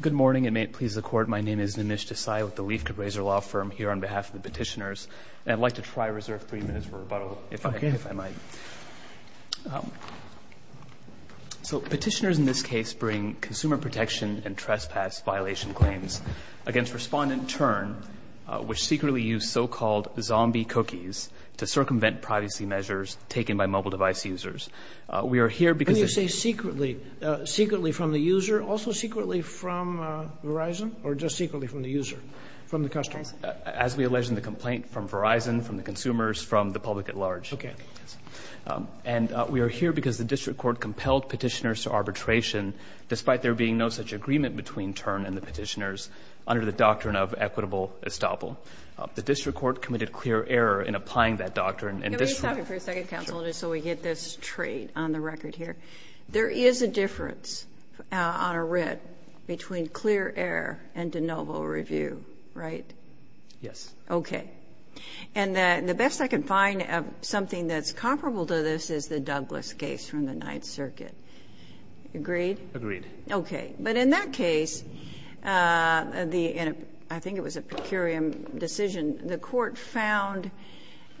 Good morning, and may it please the Court, my name is Nimish Desai with the Leif Cabrazer Law Firm here on behalf of the petitioners, and I'd like to try to reserve three minutes for rebuttal, if I might. So petitioners in this case bring consumer protection and trespass violation claims against Respondent Turn, which secretly used so-called zombie cookies to circumvent privacy measures taken by mobile device users. We are here because the district court compelled petitioners to arbitration, despite there being no such agreement between Turn and the petitioners, under the doctrine of equitable estoppel. Now, the district court committed clear error in applying that doctrine, and this— Let me stop you for a second, Counsel, just so we get this straight on the record here. There is a difference on a writ between clear error and de novo review, right? Yes. Okay. And the best I can find of something that's comparable to this is the Douglas case from the Ninth Circuit. Agreed? Agreed. Okay. But in that case, and I think it was a per curiam decision, the court found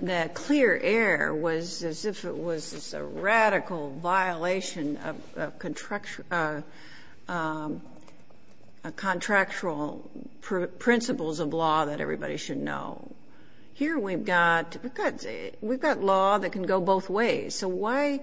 that clear error was as if it was a radical violation of contractual principles of law that everybody should know. Here we've got—we've got law that can go both ways, so why—and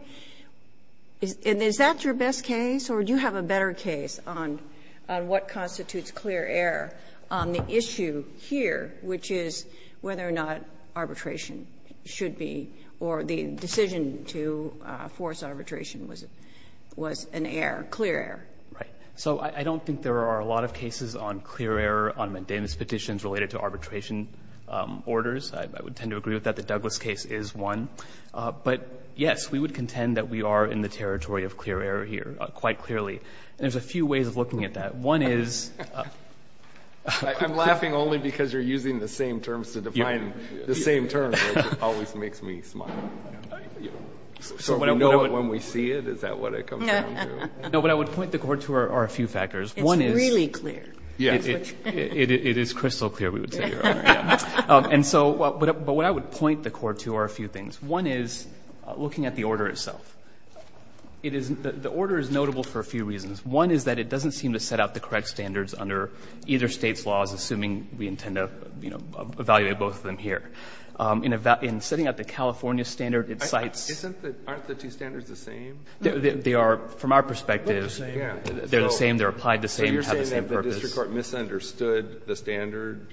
is that your best case, or do you have a better case on what constitutes clear error on the issue here, which is whether or not arbitration should be, or the decision to force arbitration was an error, clear error? Right. So I don't think there are a lot of cases on clear error on McDanis petitions related to arbitration orders. I would tend to agree with that. The Douglas case is one. But, yes, we would contend that we are in the territory of clear error here. Quite clearly. And there's a few ways of looking at that. One is— I'm laughing only because you're using the same terms to define the same terms, which always makes me smile. So we know it when we see it? Is that what it comes down to? No, but I would point the court to a few factors. One is— It's really clear. Yes. It is crystal clear, we would say, Your Honor. And so—but what I would point the court to are a few things. One is looking at the order itself. It is—the order is notable for a few reasons. One is that it doesn't seem to set out the correct standards under either state's laws, assuming we intend to, you know, evaluate both of them here. In setting out the California standard, it cites— Aren't the two standards the same? They are, from our perspective. They're the same. They're the same. They're applied the same. They have the same purpose. So you're saying that the district court misunderstood the standard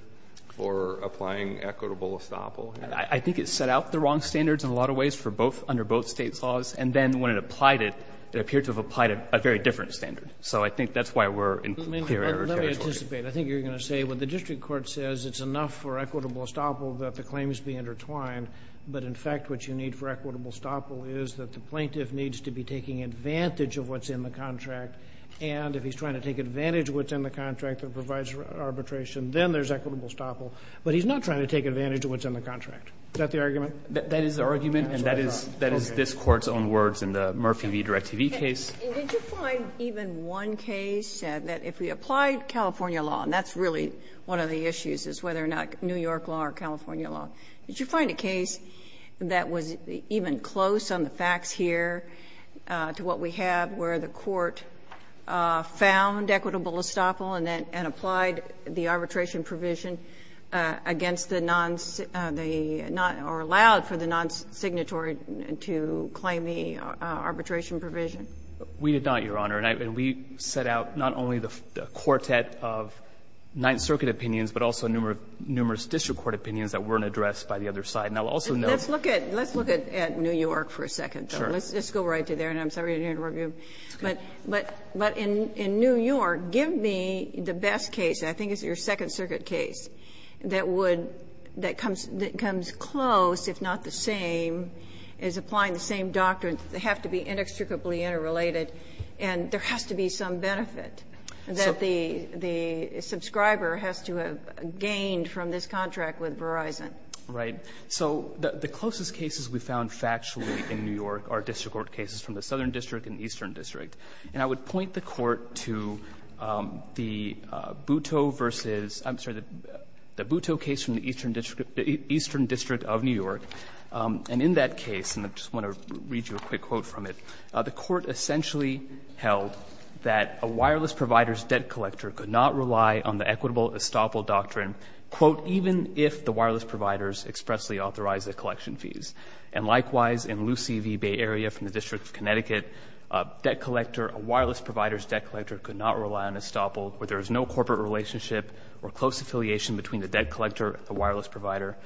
for applying equitable estoppel here? I think it set out the wrong standards in a lot of ways for both—under both states' laws. And then when it applied it, it appeared to have applied a very different standard. So I think that's why we're in clear error territory. Let me anticipate. I think you're going to say, well, the district court says it's enough for equitable estoppel that the claims be intertwined, but in fact, what you need for equitable estoppel is that the plaintiff needs to be taking advantage of what's in the contract. And if he's trying to take advantage of what's in the contract that provides arbitration, then there's equitable estoppel. But he's not trying to take advantage of what's in the contract. Is that the argument? That is the argument. And that is this Court's own words in the Murphy v. DirecTV case. And did you find even one case that if we applied California law, and that's really one of the issues, is whether or not New York law or California law, did you find a case that was even close on the facts here to what we have where the Court found equitable estoppel and then applied the arbitration provision against the non-signature to claim the arbitration provision? We did not, Your Honor. And we set out not only the quartet of Ninth Circuit opinions, but also numerous district court opinions that weren't addressed by the other side. And I'll also note the other side. Let's look at New York for a second. Sure. Let's go right to there, and I'm sorry to interrupt you. But in New York, give me the best case, and I think it's your Second Circuit case, that would, that comes close, if not the same, is applying the same doctrine. They have to be inextricably interrelated, and there has to be some benefit that the subscriber has to have gained from this contract with Verizon. Right. So the closest cases we found factually in New York are district court cases from the Southern District and Eastern District. And I would point the Court to the Butto versus, I'm sorry, the Butto case from the Eastern District of New York. And in that case, and I just want to read you a quick quote from it, the Court essentially held that a wireless provider's debt collector could not rely on the equitable estoppel doctrine, quote, even if the wireless providers expressly authorized the collection fees. And likewise, in Lucy v. Bay Area from the District of Connecticut, a debt collector, a wireless provider's debt collector could not rely on estoppel, where there is no corporate relationship or close affiliation between the debt collector and the wireless provider,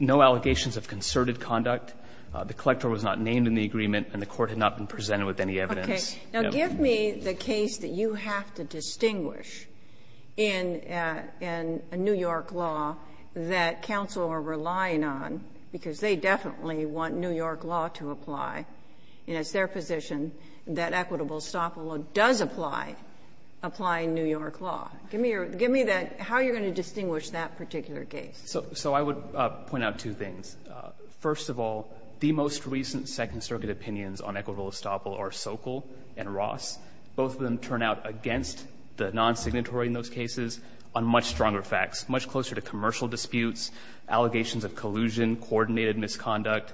no allegations of concerted conduct, the collector was not named in the agreement, and the Court had not been presented with any evidence. Okay. Now, give me the case that you have to distinguish in a New York law that counsel are relying on, because they definitely want New York law to apply, and it's their position that equitable estoppel does apply, applying New York law. Give me that, how you're going to distinguish that particular case. So I would point out two things. First of all, the most recent Second Circuit opinions on equitable estoppel are Sokol and Ross. Both of them turn out against the non-signatory in those cases on much closer to commercial disputes, allegations of collusion, coordinated misconduct,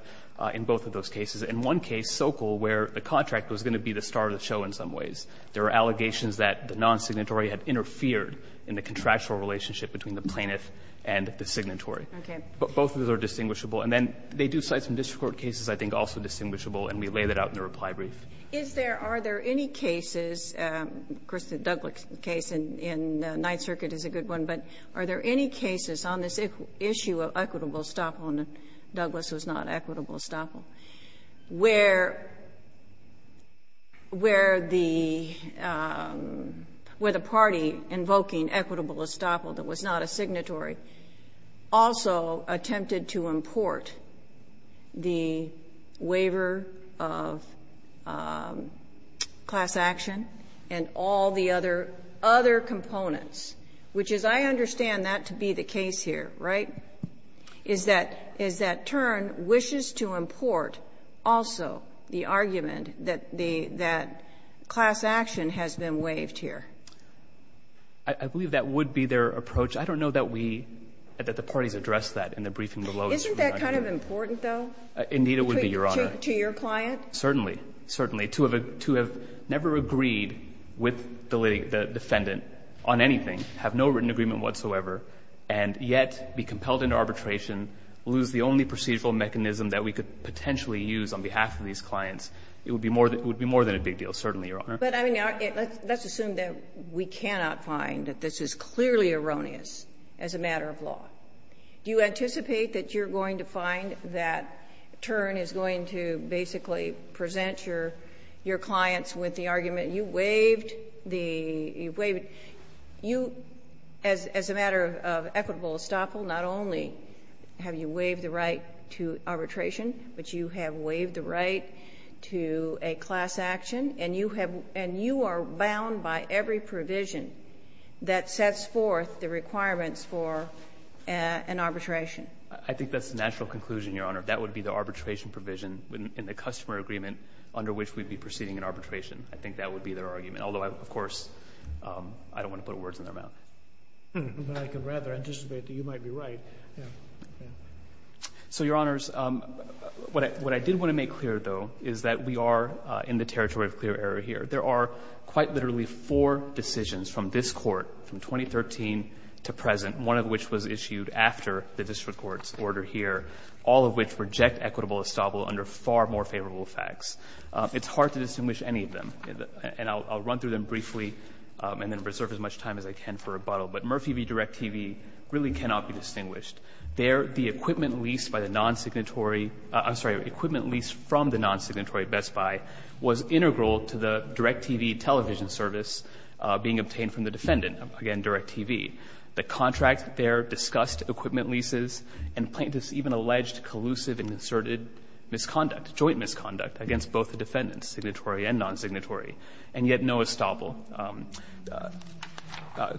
in both of those cases. In one case, Sokol, where the contract was going to be the star of the show in some ways, there were allegations that the non-signatory had interfered in the contractual relationship between the plaintiff and the signatory. Okay. Both of those are distinguishable. And then they do cite some district court cases, I think, also distinguishable, and we lay that out in the reply brief. Is there, are there any cases, of course, the Douglass case in Ninth Circuit is a good one, but are there any cases on this issue of equitable estoppel, and Douglass was not equitable estoppel, where the party invoking equitable estoppel that was not a signatory also attempted to import the waiver of class action and all the other components, which is, I understand that to be the case here, right, is that, is that Tern wishes to import also the argument that the, that class action has been waived here? I believe that would be their approach. I don't know that we, that the parties addressed that in the briefing below us. Isn't that kind of important, though? Indeed, it would be, Your Honor. To your client? Certainly. Certainly. To have never agreed with the defendant on anything, have no written agreement whatsoever, and yet be compelled into arbitration, lose the only procedural mechanism that we could potentially use on behalf of these clients, it would be more than a big deal, certainly, Your Honor. But I mean, let's assume that we cannot find that this is clearly erroneous as a matter of law. Do you anticipate that you're going to find that Tern is going to basically present your, your clients with the argument, you waived the, you waived, you, as, as a matter of equitable estoppel, not only have you waived the right to arbitration, but you have waived the right to a class action, and you have, and you are bound by every provision that sets forth the requirements for an arbitration. I think that's the natural conclusion, Your Honor. That would be the arbitration provision in the customer agreement under which we'd be proceeding an arbitration. I think that would be their argument. Although I, of course, I don't want to put words in their mouth. But I can rather anticipate that you might be right. So, Your Honors, what I, what I did want to make clear, though, is that we are in the territory of clear error here. There are quite literally four decisions from this court, from 2013 to present, one of which was issued after the district court's order here, all of which reject equitable estoppel under far more favorable facts. It's hard to distinguish any of them, and I'll, I'll run through them briefly and then reserve as much time as I can for rebuttal. But Murphy v. DirecTV really cannot be distinguished. Their, the equipment leased by the non-signatory, I'm sorry, equipment leased from the non-signatory Best Buy was integral to the DirecTV television service being obtained from the defendant, again, DirecTV. The contract there discussed equipment leases and plaintiffs even alleged collusive and inserted misconduct, joint misconduct against both the defendants, signatory and non-signatory, and yet no estoppel.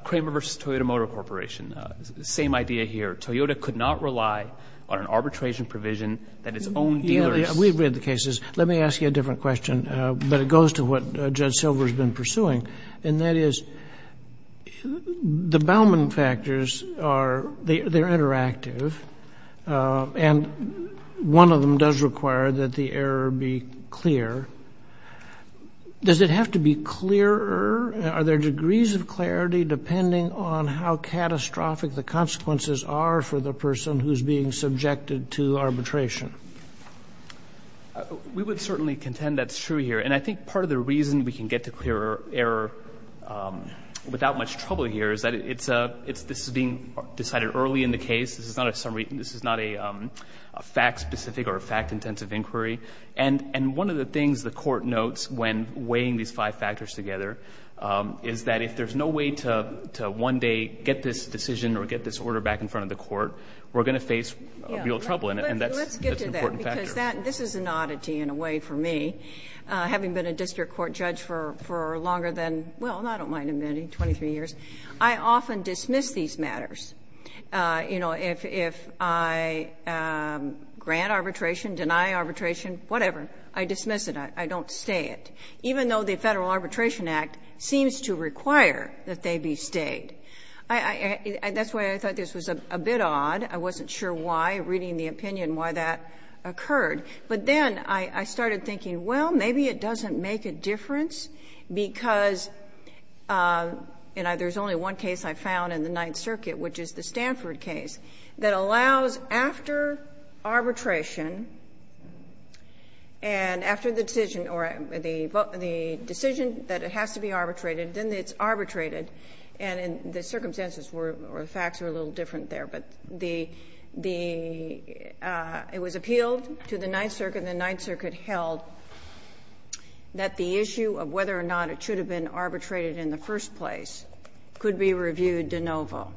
Kramer v. Toyota Motor Corporation, same idea here. Toyota could not rely on an arbitration provision that its own dealers... We've read the cases. Let me ask you a different question, but it goes to what Judge Silver has been pursuing. And that is, the Bauman factors are, they're interactive, and one of them does require that the error be clear. Does it have to be clearer? Are there degrees of clarity depending on how catastrophic the consequences are for the person who's being subjected to arbitration? We would certainly contend that's true here. And I think part of the reason we can get to clearer error without much trouble here is that it's a, it's, this is being decided early in the case. This is not a summary, this is not a fact-specific or a fact-intensive inquiry. And, and one of the things the court notes when weighing these five factors together is that if there's no way to, to one day get this decision or get this order back in front of the court, we're going to face real trouble. And that's, that's an important factor. Let's get to that because that, this is an oddity in a way for me. Having been a district court judge for, for longer than, well, I don't mind admitting 23 years, I often dismiss these matters. You know, if, if I grant arbitration, deny arbitration, whatever, I dismiss it. I don't stay it. Even though the Federal Arbitration Act seems to require that they be stayed. I, I, that's why I thought this was a bit odd. I wasn't sure why, reading the opinion, why that occurred. But then I, I started thinking, well, maybe it doesn't make a difference because, and I, there's only one case I found in the Ninth Circuit, which is the Stanford case, that allows after arbitration, and after the decision, or the, the, the decision that it has to be arbitrated, then it's arbitrated, and in the circumstances were, or the facts were a little different there, but the, the, it was appealed to the Ninth Circuit, and the Ninth Circuit held that the issue of whether or not it should have been arbitrated in the first place could be reviewed de novo.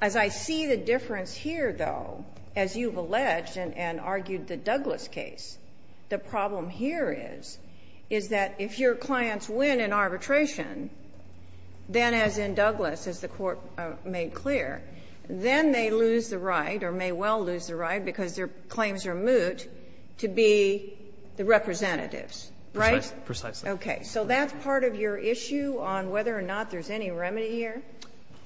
As I see the difference here, though, as you've alleged and, and argued the Douglas case, the problem here is, is that if your clients win in arbitration, then as in the case you've made clear, then they lose the right, or may well lose the right, because their claims are moot, to be the representatives, right? Precisely. Okay. So that's part of your issue on whether or not there's any remedy here?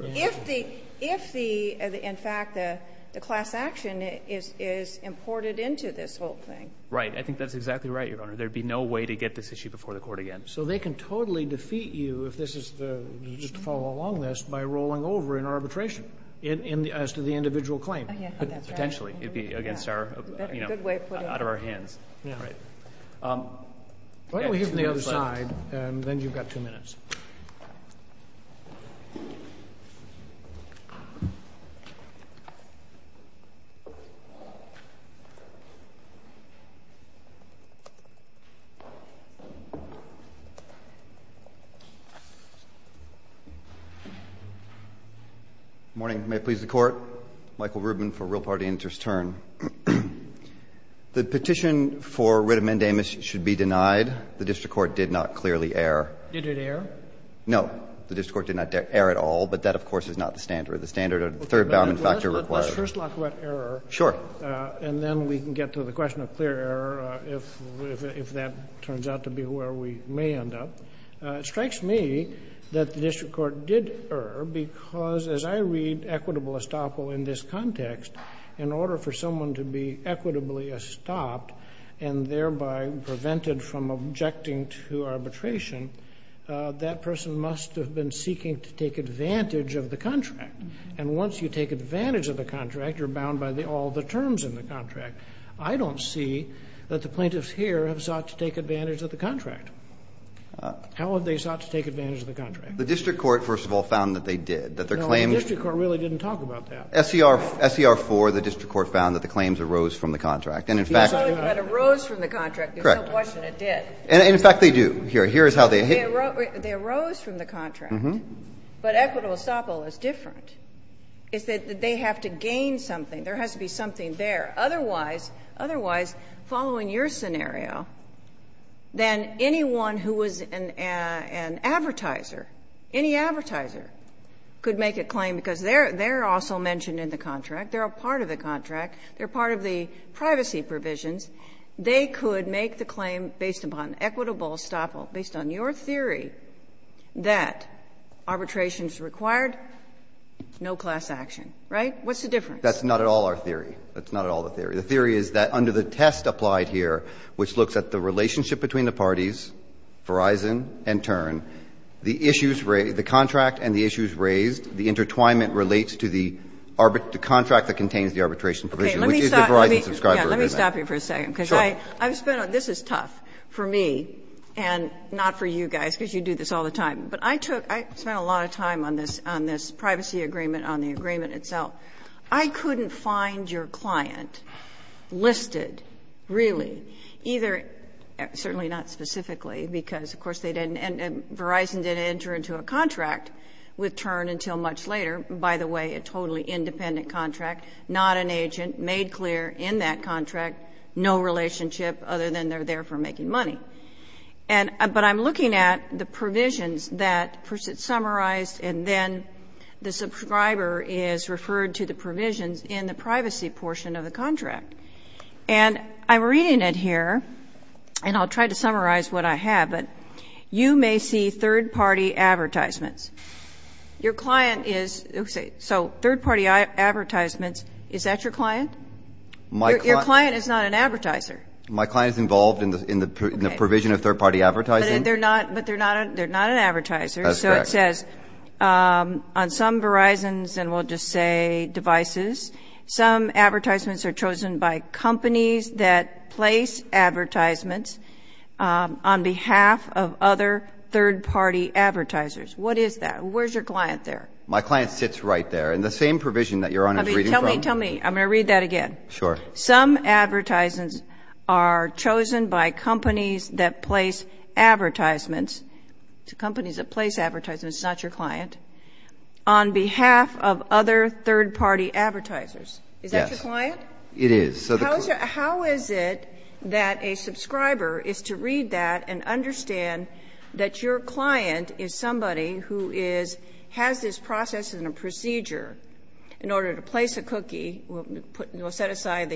If the, if the, in fact, the, the class action is, is imported into this whole thing. Right. I think that's exactly right, Your Honor. There'd be no way to get this issue before the Court again. So they can totally defeat you if this is the, just to follow along this, by rolling over in arbitration, in, in, as to the individual claim. Oh, yeah, that's right. Potentially. It'd be against our, you know, out of our hands. Yeah. Right. Why don't we hear from the other side, and then you've got two minutes. Good morning. May it please the Court. Michael Rubin for Real Party Interest, turn. The petition for writ amendamus should be denied. The district court did not clearly err. Did it err? No. The district court did not err at all, but that, of course, is not the standard. The standard, a third-bound factor required. Let's first talk about error. Sure. And then we can get to the question of clear error, if, if that turns out to be where we may end up. It strikes me that the district court did err, because as I read equitable estoppel in this context, in order for someone to be equitably estopped, and thereby prevented from objecting to arbitration, that person must have been seeking to take advantage of the contract. And once you take advantage of the contract, you're bound by the, all the terms in the contract. I don't see that the plaintiffs here have sought to take advantage of the contract. How have they sought to take advantage of the contract? The district court, first of all, found that they did. That their claim No, the district court really didn't talk about that. SCR, SCR 4, the district court found that the claims arose from the contract. And in fact, You're telling me that it arose from the contract. Correct. There's no question it did. And, in fact, they do. Here, here is how they hit. They arose from the contract, but equitable estoppel is different. It's that they have to gain something. There has to be something there. Otherwise, otherwise, following your scenario, then anyone who was an advertiser, any advertiser could make a claim, because they're also mentioned in the contract. They're a part of the contract. They're part of the privacy provisions. They could make the claim based upon equitable estoppel, based on your theory that arbitration is required, no class action, right? What's the difference? That's not at all our theory. That's not at all the theory. The theory is that under the test applied here, which looks at the relationship between the parties, Verizon and Tern, the issues raised, the contract and the issues raised, the intertwinement relates to the contract that contains the arbitration provision, which is the Verizon subscriber agreement. Okay. Let me stop you for a second, because I've spent a lot of time on this. This is tough for me and not for you guys, because you do this all the time. But I took – I spent a lot of time on this, on this privacy agreement, on the agreement itself. I couldn't find your client listed, really, either – certainly not specifically, because, of course, they didn't – Verizon didn't enter into a contract with Tern until much later. By the way, a totally independent contract, not an agent, made clear in that contract, no relationship, other than they're there for making money. And – but I'm looking at the provisions that, first, it summarized and then the subscriber is referred to the provisions in the privacy portion of the contract. And I'm reading it here, and I'll try to summarize what I have, but you may see third-party advertisements. Your client is – so third-party advertisements, is that your client? Your client is not an advertiser. My client is involved in the provision of third-party advertising. But they're not – but they're not – they're not an advertiser, so it says, on some Verizons, and we'll just say devices, some advertisements are chosen by companies that place advertisements on behalf of other third-party advertisers. What is that? Where's your client there? My client sits right there. In the same provision that Your Honor is reading from – Tell me, tell me. I'm going to read that again. Sure. Some advertisements are chosen by companies that place advertisements – companies that place advertisements, not your client – on behalf of other third-party advertisers. Is that your client? Yes. It is. How is it that a subscriber is to read that and understand that your client is somebody who is – has this process and a procedure in order to place a cookie – we'll set to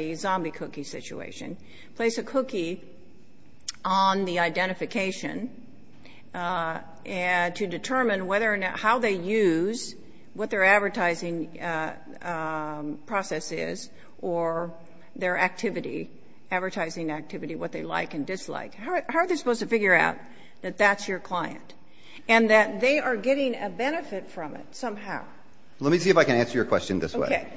determine whether or not – how they use what their advertising process is or their activity, advertising activity, what they like and dislike. How are they supposed to figure out that that's your client and that they are getting a benefit from it somehow? Let me see if I can answer your question this way. Okay.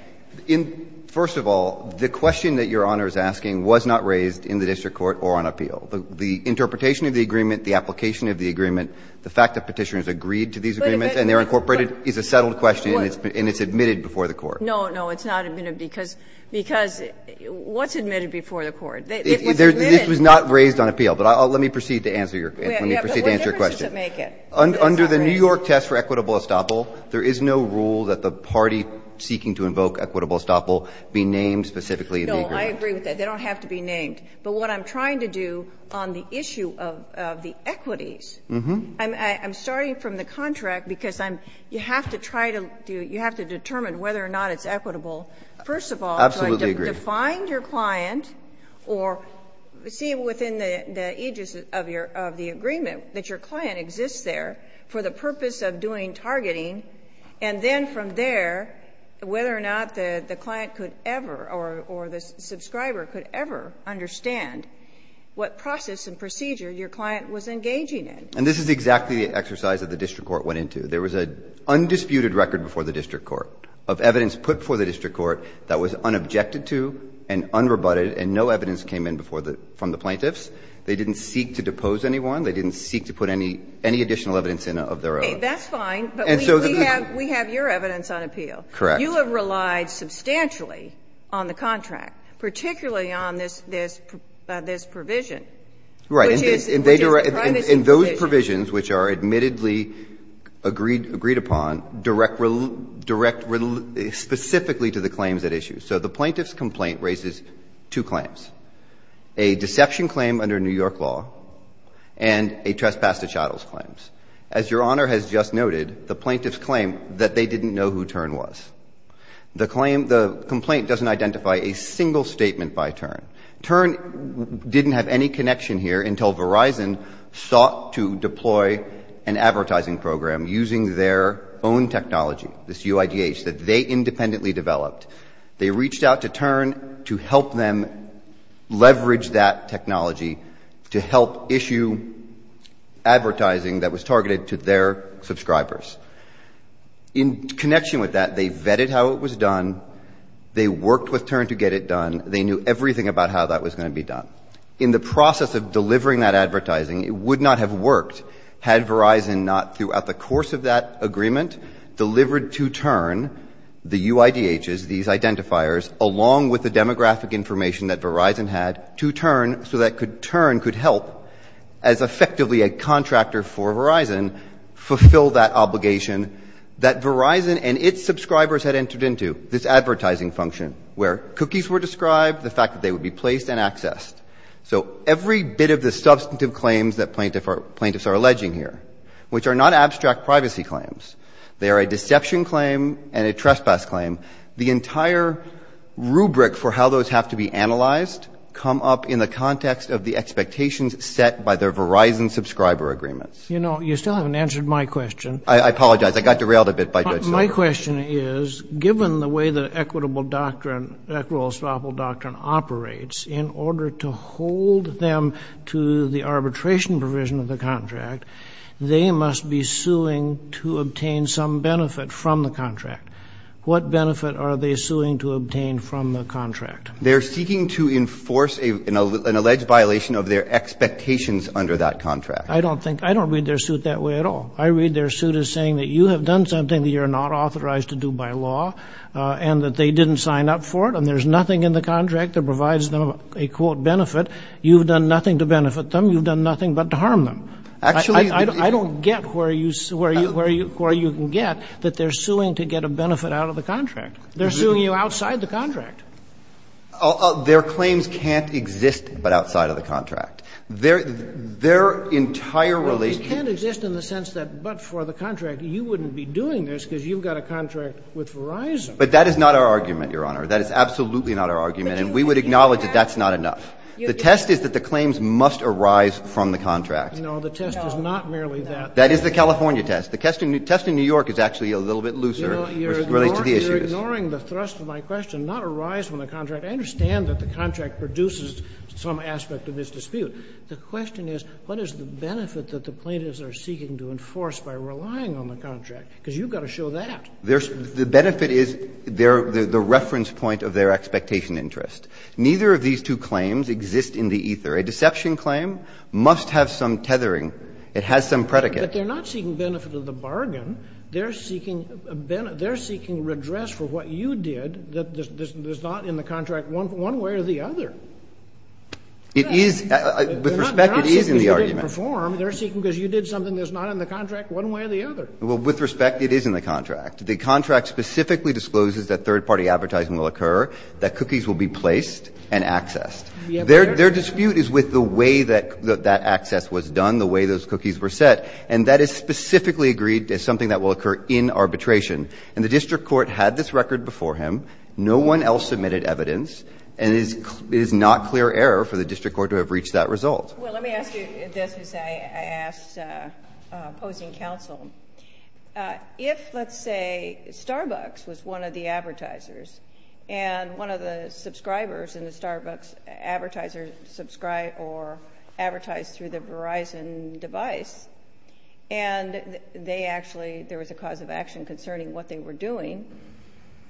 In – first of all, the question that Your Honor is asking was not raised in the district court or on appeal. The interpretation of the agreement, the application of the agreement, the fact that Petitioner has agreed to these agreements and they are incorporated is a settled question and it's admitted before the court. No, no. It's not admitted because – because what's admitted before the court? It was admitted – This was not raised on appeal, but let me proceed to answer your – let me proceed to answer your question. Yeah, but what difference does it make? Under the New York test for equitable estoppel, there is no rule that the party seeking to invoke equitable estoppel be named specifically in the agreement. No, I agree with that. They don't have to be named. But what I'm trying to do on the issue of the equities, I'm starting from the contract because I'm – you have to try to do – you have to determine whether or not it's equitable. First of all, to find your client or see within the aegis of your – of the agreement that your client exists there for the purpose of doing targeting, and then from there, whether or not the client could ever or the subscriber could ever understand what process and procedure your client was engaging in. And this is exactly the exercise that the district court went into. There was an undisputed record before the district court of evidence put before the district court that was unobjected to and unrebutted, and no evidence came in before the – from the plaintiffs. They didn't seek to depose anyone. They didn't seek to put any – any additional evidence in of their own. Okay. That's fine. And so the – But we have – we have your evidence on appeal. Correct. You have relied substantially on the contract, particularly on this – this provision. Right. Which is – which is a privacy provision. And those provisions, which are admittedly agreed – agreed upon, direct – direct specifically to the claims at issue. So the plaintiff's complaint raises two claims, a deception claim under New York law and a trespass to chattel's claims. As Your Honor has just noted, the plaintiffs claim that they didn't know who Turn was. The claim – the complaint doesn't identify a single statement by Turn. Turn didn't have any connection here until Verizon sought to deploy an advertising program using their own technology, this UIGH, that they independently developed. They reached out to Turn to help them leverage that technology to help issue advertising that was targeted to their subscribers. In connection with that, they vetted how it was done. They worked with Turn to get it done. They knew everything about how that was going to be done. In the process of delivering that advertising, it would not have worked had Verizon not, throughout the course of that agreement, delivered to Turn the UIGHs, these identifiers, along with the demographic information that Verizon had, to Turn so that Turn could help, as effectively a contractor for Verizon, fulfill that obligation that Verizon and its subscribers had entered into, this advertising function, where cookies were described, the fact that they would be placed and accessed. So every bit of the substantive claims that plaintiffs are alleging here, which are not abstract privacy claims, they are a deception claim and a trespass claim, the entire rubric for how those have to be analyzed come up in the context of the expectations set by their Verizon subscriber agreements. You know, you still haven't answered my question. I apologize. I got derailed a bit by Judge Silver. My question is, given the way the equitable doctrine, equitable swappable doctrine operates, in order to hold them to the arbitration provision of the contract, they must be suing to obtain some benefit from the contract. What benefit are they suing to obtain from the contract? They're seeking to enforce an alleged violation of their expectations under that contract. I don't think, I don't read their suit that way at all. I read their suit as saying that you have done something that you're not authorized to do by law and that they didn't sign up for it and there's nothing in the contract that provides them a quote benefit. You've done nothing to benefit them. You've done nothing but to harm them. Actually, I don't get where you, where you, where you can get that they're suing to get a benefit out of the contract. They're suing you outside the contract. Their claims can't exist but outside of the contract. They're, they're entirely. Well, they can't exist in the sense that but for the contract, you wouldn't be doing this because you've got a contract with Verizon. But that is not our argument, Your Honor. That is absolutely not our argument. And we would acknowledge that that's not enough. The test is that the claims must arise from the contract. No, the test is not merely that. That is the California test. The test in New York is actually a little bit looser, which relates to the issues. You're ignoring the thrust of my question, not arise from the contract. I understand that the contract produces some aspect of this dispute. The question is, what is the benefit that the plaintiffs are seeking to enforce by relying on the contract? Because you've got to show that. There's, the benefit is, they're, they're the reference point of their expectation interest. Neither of these two claims exist in the ether. A deception claim must have some tethering. It has some predicate. But they're not seeking benefit of the bargain. They're seeking a benefit, they're seeking redress for what you did that, that's not in the contract, one way or the other. It is, with respect, it is in the argument. They're not seeking because you didn't perform, they're seeking because you did something that's not in the contract, one way or the other. Well, with respect, it is in the contract. The contract specifically discloses that third-party advertising will occur, that cookies will be placed and accessed. Their, their dispute is with the way that, that access was done, the way those cookies were set, and that is specifically agreed as something that will occur in arbitration. And the district court had this record before him. No one else submitted evidence, and it is, it is not clear error for the district court to have reached that result. Well, let me ask you this as I, I asked opposing counsel, if, let's say, Starbucks was one of the advertisers, and one of the subscribers in the Starbucks advertiser subscribed or advertised through the Verizon device, and they actually, there was a cause of action concerning what they were doing,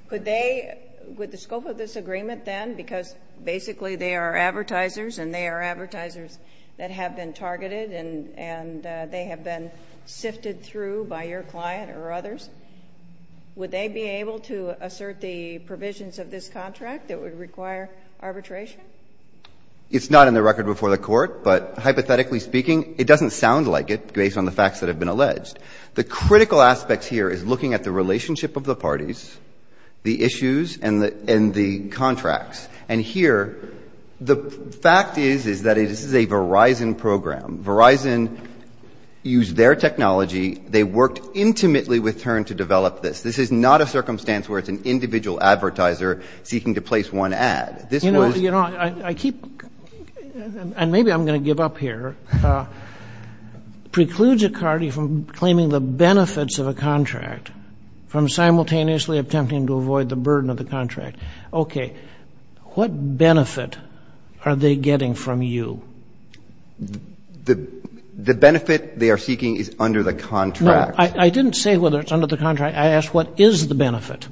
could they, with the scope of this agreement then, because basically they are advertisers, and they are advertisers that have been targeted and, and they have been sifted through by your client or others, would they be able to assert the provisions of this contract that would require arbitration? It's not in the record before the court, but hypothetically speaking, it doesn't sound like it based on the facts that have been alleged. The critical aspect here is looking at the relationship of the parties, the issues, and the, and the contracts. And here, the fact is, is that it is a Verizon program. Verizon used their technology. They worked intimately with Tern to develop this. This is not a circumstance where it's an individual advertiser seeking to place one ad. This was... You're claiming the benefits of a contract from simultaneously attempting to avoid the burden of the contract. Okay. What benefit are they getting from you? The benefit they are seeking is under the contract. I didn't say whether it's under the contract. I asked what is the benefit.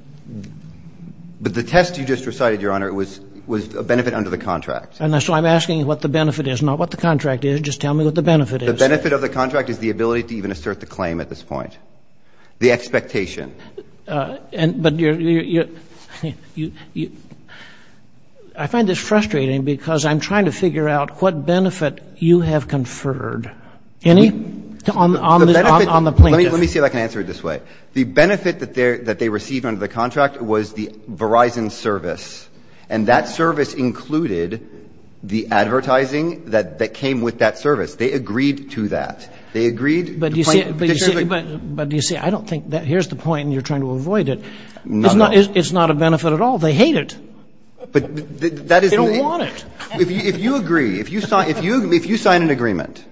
But the test you just recited, Your Honor, it was, was a benefit under the contract. And that's why I'm asking what the benefit is, not what the contract is. Just tell me what the benefit is. The benefit of the contract is the ability to even assert the claim at this point. The expectation. And, but you're, you're, you, you, you, I find this frustrating because I'm trying to figure out what benefit you have conferred. Any on, on the plaintiff? Let me, let me see if I can answer it this way. The benefit that they're, that they received under the contract was the Verizon service. And that service included the advertising that, that came with that service. They agreed to that. They agreed. But do you see, but do you see, I don't think that, here's the point and you're trying to Not at all. It's not, it's not a benefit at all. They hate it. But that is the. They don't want it. If you, if you agree, if you sign, if you, if you sign an agreement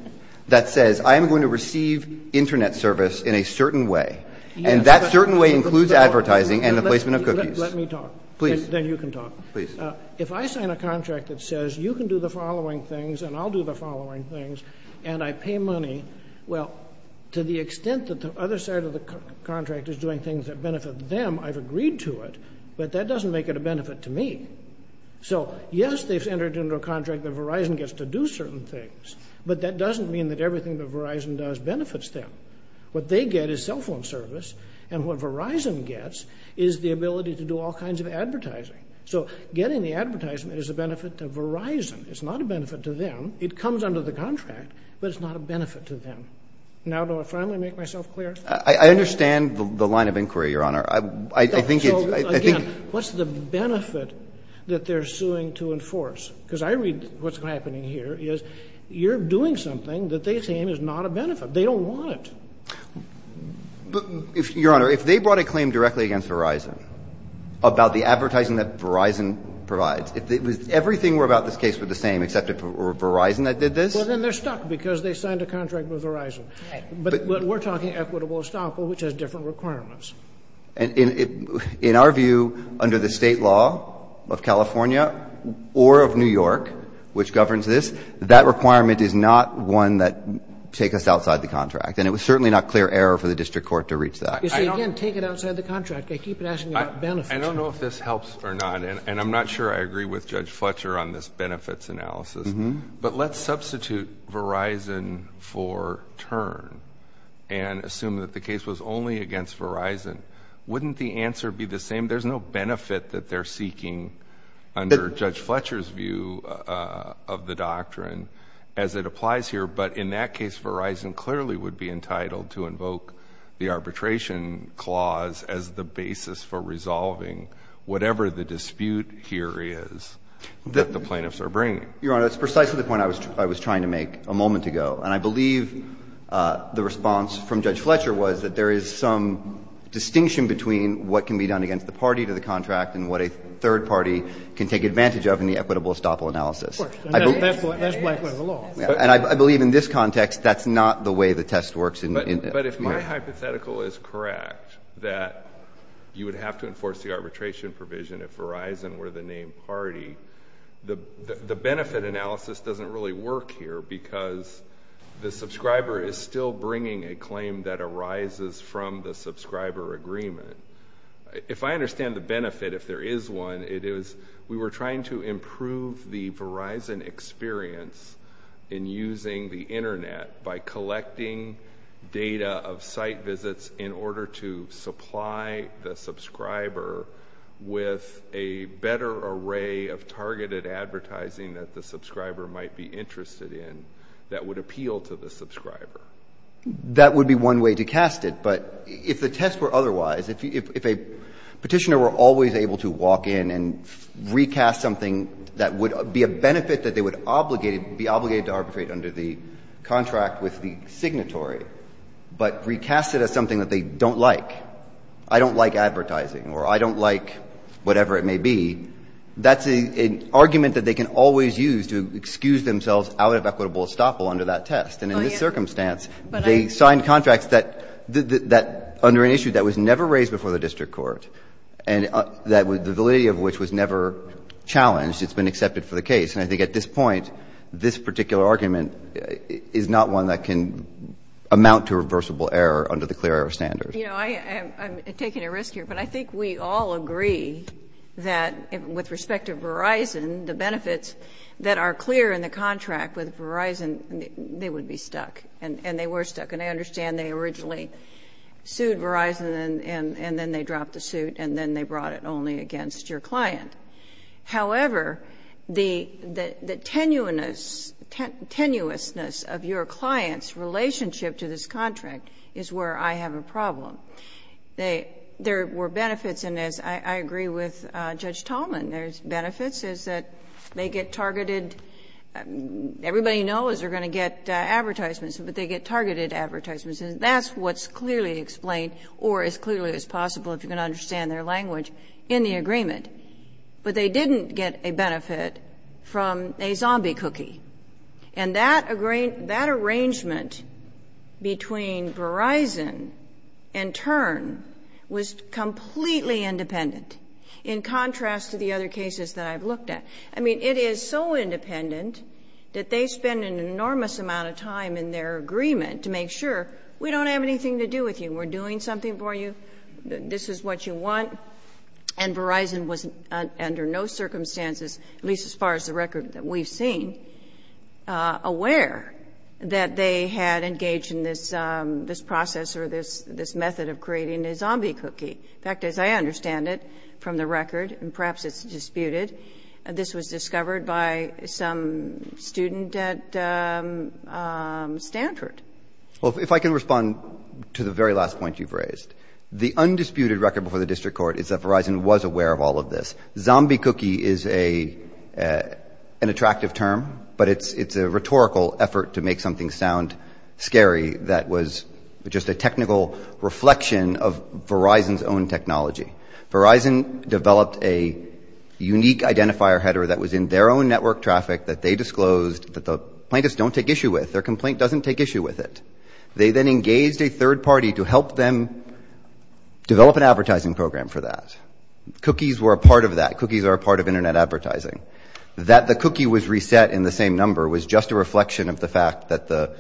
that says I'm going to receive internet service in a certain way and that certain way includes advertising and the placement of cookies. Let me talk. Please. Then you can talk. Please. Please. If I sign a contract that says you can do the following things and I'll do the following things and I pay money, well, to the extent that the other side of the contract is doing things that benefit them, I've agreed to it, but that doesn't make it a benefit to me. So yes, they've entered into a contract that Verizon gets to do certain things, but that doesn't mean that everything that Verizon does benefits them. What they get is cell phone service. And what Verizon gets is the ability to do all kinds of advertising. So getting the advertisement is a benefit to Verizon. It's not a benefit to them. It comes under the contract, but it's not a benefit to them. Now do I finally make myself clear? I understand the line of inquiry, Your Honor. I think it's. I think. So again, what's the benefit that they're suing to enforce? Because I read what's happening here is you're doing something that they claim is not a benefit. They don't want it. Your Honor, if they brought a claim directly against Verizon about the advertising that Verizon provides, if everything about this case were the same except for Verizon that did this. Well, then they're stuck because they signed a contract with Verizon. But we're talking equitable estoppel, which has different requirements. In our view, under the state law of California or of New York, which governs this, that requirement is not one that take us outside the contract. And it was certainly not clear error for the district court to reach that. You see, again, take it outside the contract. They keep asking about benefits. I don't know if this helps or not. And I'm not sure I agree with Judge Fletcher on this benefits analysis. But let's substitute Verizon for Tern and assume that the case was only against Verizon. Wouldn't the answer be the same? There's no benefit that they're seeking under Judge Fletcher's view of the doctrine as it applies here. But in that case, Verizon clearly would be entitled to invoke the arbitration clause as the basis for resolving whatever the dispute here is that the plaintiffs are bringing. Your Honor, it's precisely the point I was trying to make a moment ago. And I believe the response from Judge Fletcher was that there is some distinction between what can be done against the party to the contract and what a third party can take advantage of in the equitable estoppel analysis. Of course. And that's Blackwood's law. And I believe in this context, that's not the way the test works. But if my hypothetical is correct, that you would have to enforce the arbitration provision if Verizon were the named party, the benefit analysis doesn't really work here because the subscriber is still bringing a claim that arises from the subscriber agreement. If I understand the benefit, if there is one, it is we were trying to improve the Verizon experience in using the Internet by collecting data of site visits in order to supply the subscriber with a better array of targeted advertising that the subscriber might be interested in that would appeal to the subscriber. That would be one way to cast it. But if the test were otherwise, if a petitioner were always able to walk in and recast something that would be a benefit that they would be obligated to arbitrate under the contract with the signatory, but recast it as something that they don't like, I don't like advertising or I don't like whatever it may be, that's an argument that they can always use to excuse themselves out of equitable estoppel under that test. And in this circumstance, they signed contracts that under an issue that was never raised before the district court and the validity of which was never challenged, it's been accepted for the case. And I think at this point, this particular argument is not one that can amount to reversible error under the clear error standard. You know, I'm taking a risk here, but I think we all agree that with respect to Verizon, the benefits that are clear in the contract with Verizon, they would be stuck. And they were stuck. And I understand they originally sued Verizon and then they dropped the suit and then they brought it only against your client. However, the tenuousness of your client's relationship to this contract is where I have a problem. There were benefits in this. I agree with Judge Tallman. There's benefits is that they get targeted. Everybody knows they're going to get advertisements, but they get targeted advertisements. That's what's clearly explained or as clearly as possible, if you can understand their language, in the agreement. But they didn't get a benefit from a zombie cookie. And that arrangement between Verizon and Tern was completely independent in contrast to the other cases that I've looked at. I mean, it is so independent that they spend an enormous amount of time in their agreement to make sure we don't have anything to do with you. We're doing something for you. This is what you want. And Verizon was under no circumstances, at least as far as the record that we've seen, aware that they had engaged in this process or this method of creating a zombie cookie. In fact, as I understand it from the record, and perhaps it's disputed, this was discovered by some student at Stanford. Well, if I can respond to the very last point you've raised. The undisputed record before the district court is that Verizon was aware of all of this. Zombie cookie is an attractive term, but it's a rhetorical effort to make something sound scary that was just a technical reflection of Verizon's own technology. Verizon developed a unique identifier header that was in their own network traffic that they disclosed that the plaintiffs don't take issue with. Their complaint doesn't take issue with it. They then engaged a third party to help them develop an advertising program for that. Cookies were a part of that. Cookies are a part of internet advertising. That the cookie was reset in the same number was just a reflection of the fact that the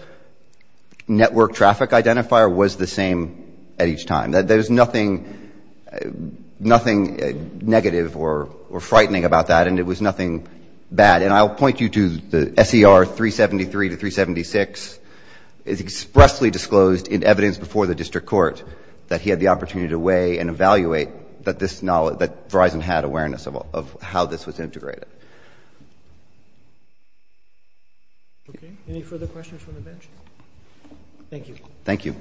network traffic identifier was the same at each time. There's nothing negative or frightening about that, and it was nothing bad. And I'll point you to the SER 373 to 376. It's expressly disclosed in evidence before the district court that he had the opportunity to weigh and evaluate that Verizon had awareness of how this was integrated. Okay. Any further questions from the bench? Thank you. Thank you.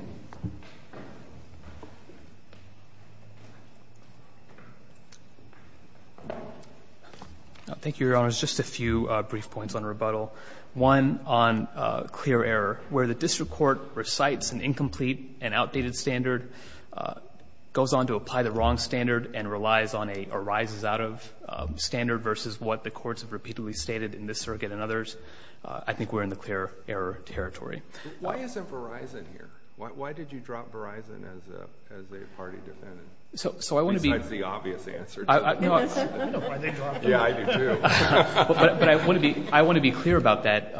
Thank you, Your Honors. Just a few brief points on rebuttal. One on clear error. Where the district court recites an incomplete and outdated standard, goes on to apply the wrong standard and relies on a arises out of standard versus what the courts have repeatedly stated in this circuit and others. I think we're in the clear error territory. Why isn't Verizon here? Why did you drop Verizon as the party defendant? So I want to be. Besides the obvious answer. No. Why'd they drop it? Yeah, I do too. But I want to be clear about that.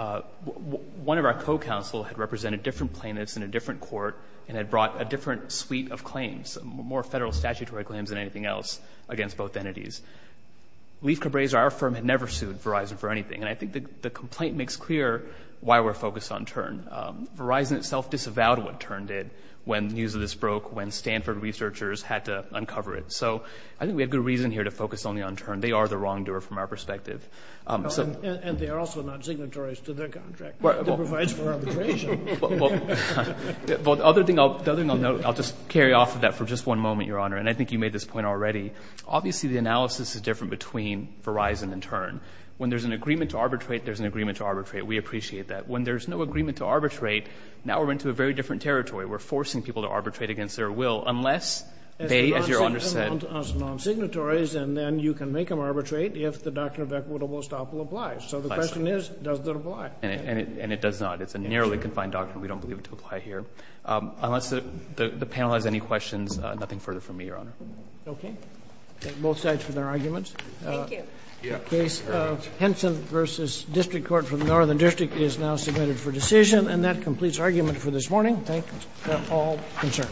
One of our co-counsel had represented different plaintiffs in a different court and had brought a different suite of claims, more federal statutory claims than anything else against both entities. Leif Cabreza, our firm, had never sued Verizon for anything. And I think the complaint makes clear why we're focused on Tern. Verizon itself disavowed what Tern did when news of this broke, when Stanford researchers had to uncover it. So I think we have good reason here to focus only on Tern. They are the wrongdoer from our perspective. And they are also not signatories to their contract. It provides for arbitration. Well, the other thing I'll note, I'll just carry off of that for just one moment, Your Honor, and I think you made this point already. Obviously, the analysis is different between Verizon and Tern. When there's an agreement to arbitrate, there's an agreement to arbitrate. We appreciate that. When there's no agreement to arbitrate, now we're into a very different territory. We're forcing people to arbitrate against their will unless they, as Your Honor said. As non-signatories, and then you can make them arbitrate if the Doctrine of Equitable Estoppel applies. So the question is, does it apply? And it does not. It's a narrowly confined doctrine. We don't believe it to apply here. Unless the panel has any questions, nothing further from me, Your Honor. Okay. Both sides for their arguments. Thank you. The case of Henson v. District Court for the Northern District is now submitted for decision. And that completes our argument for this morning. Thank you. We're all concerned.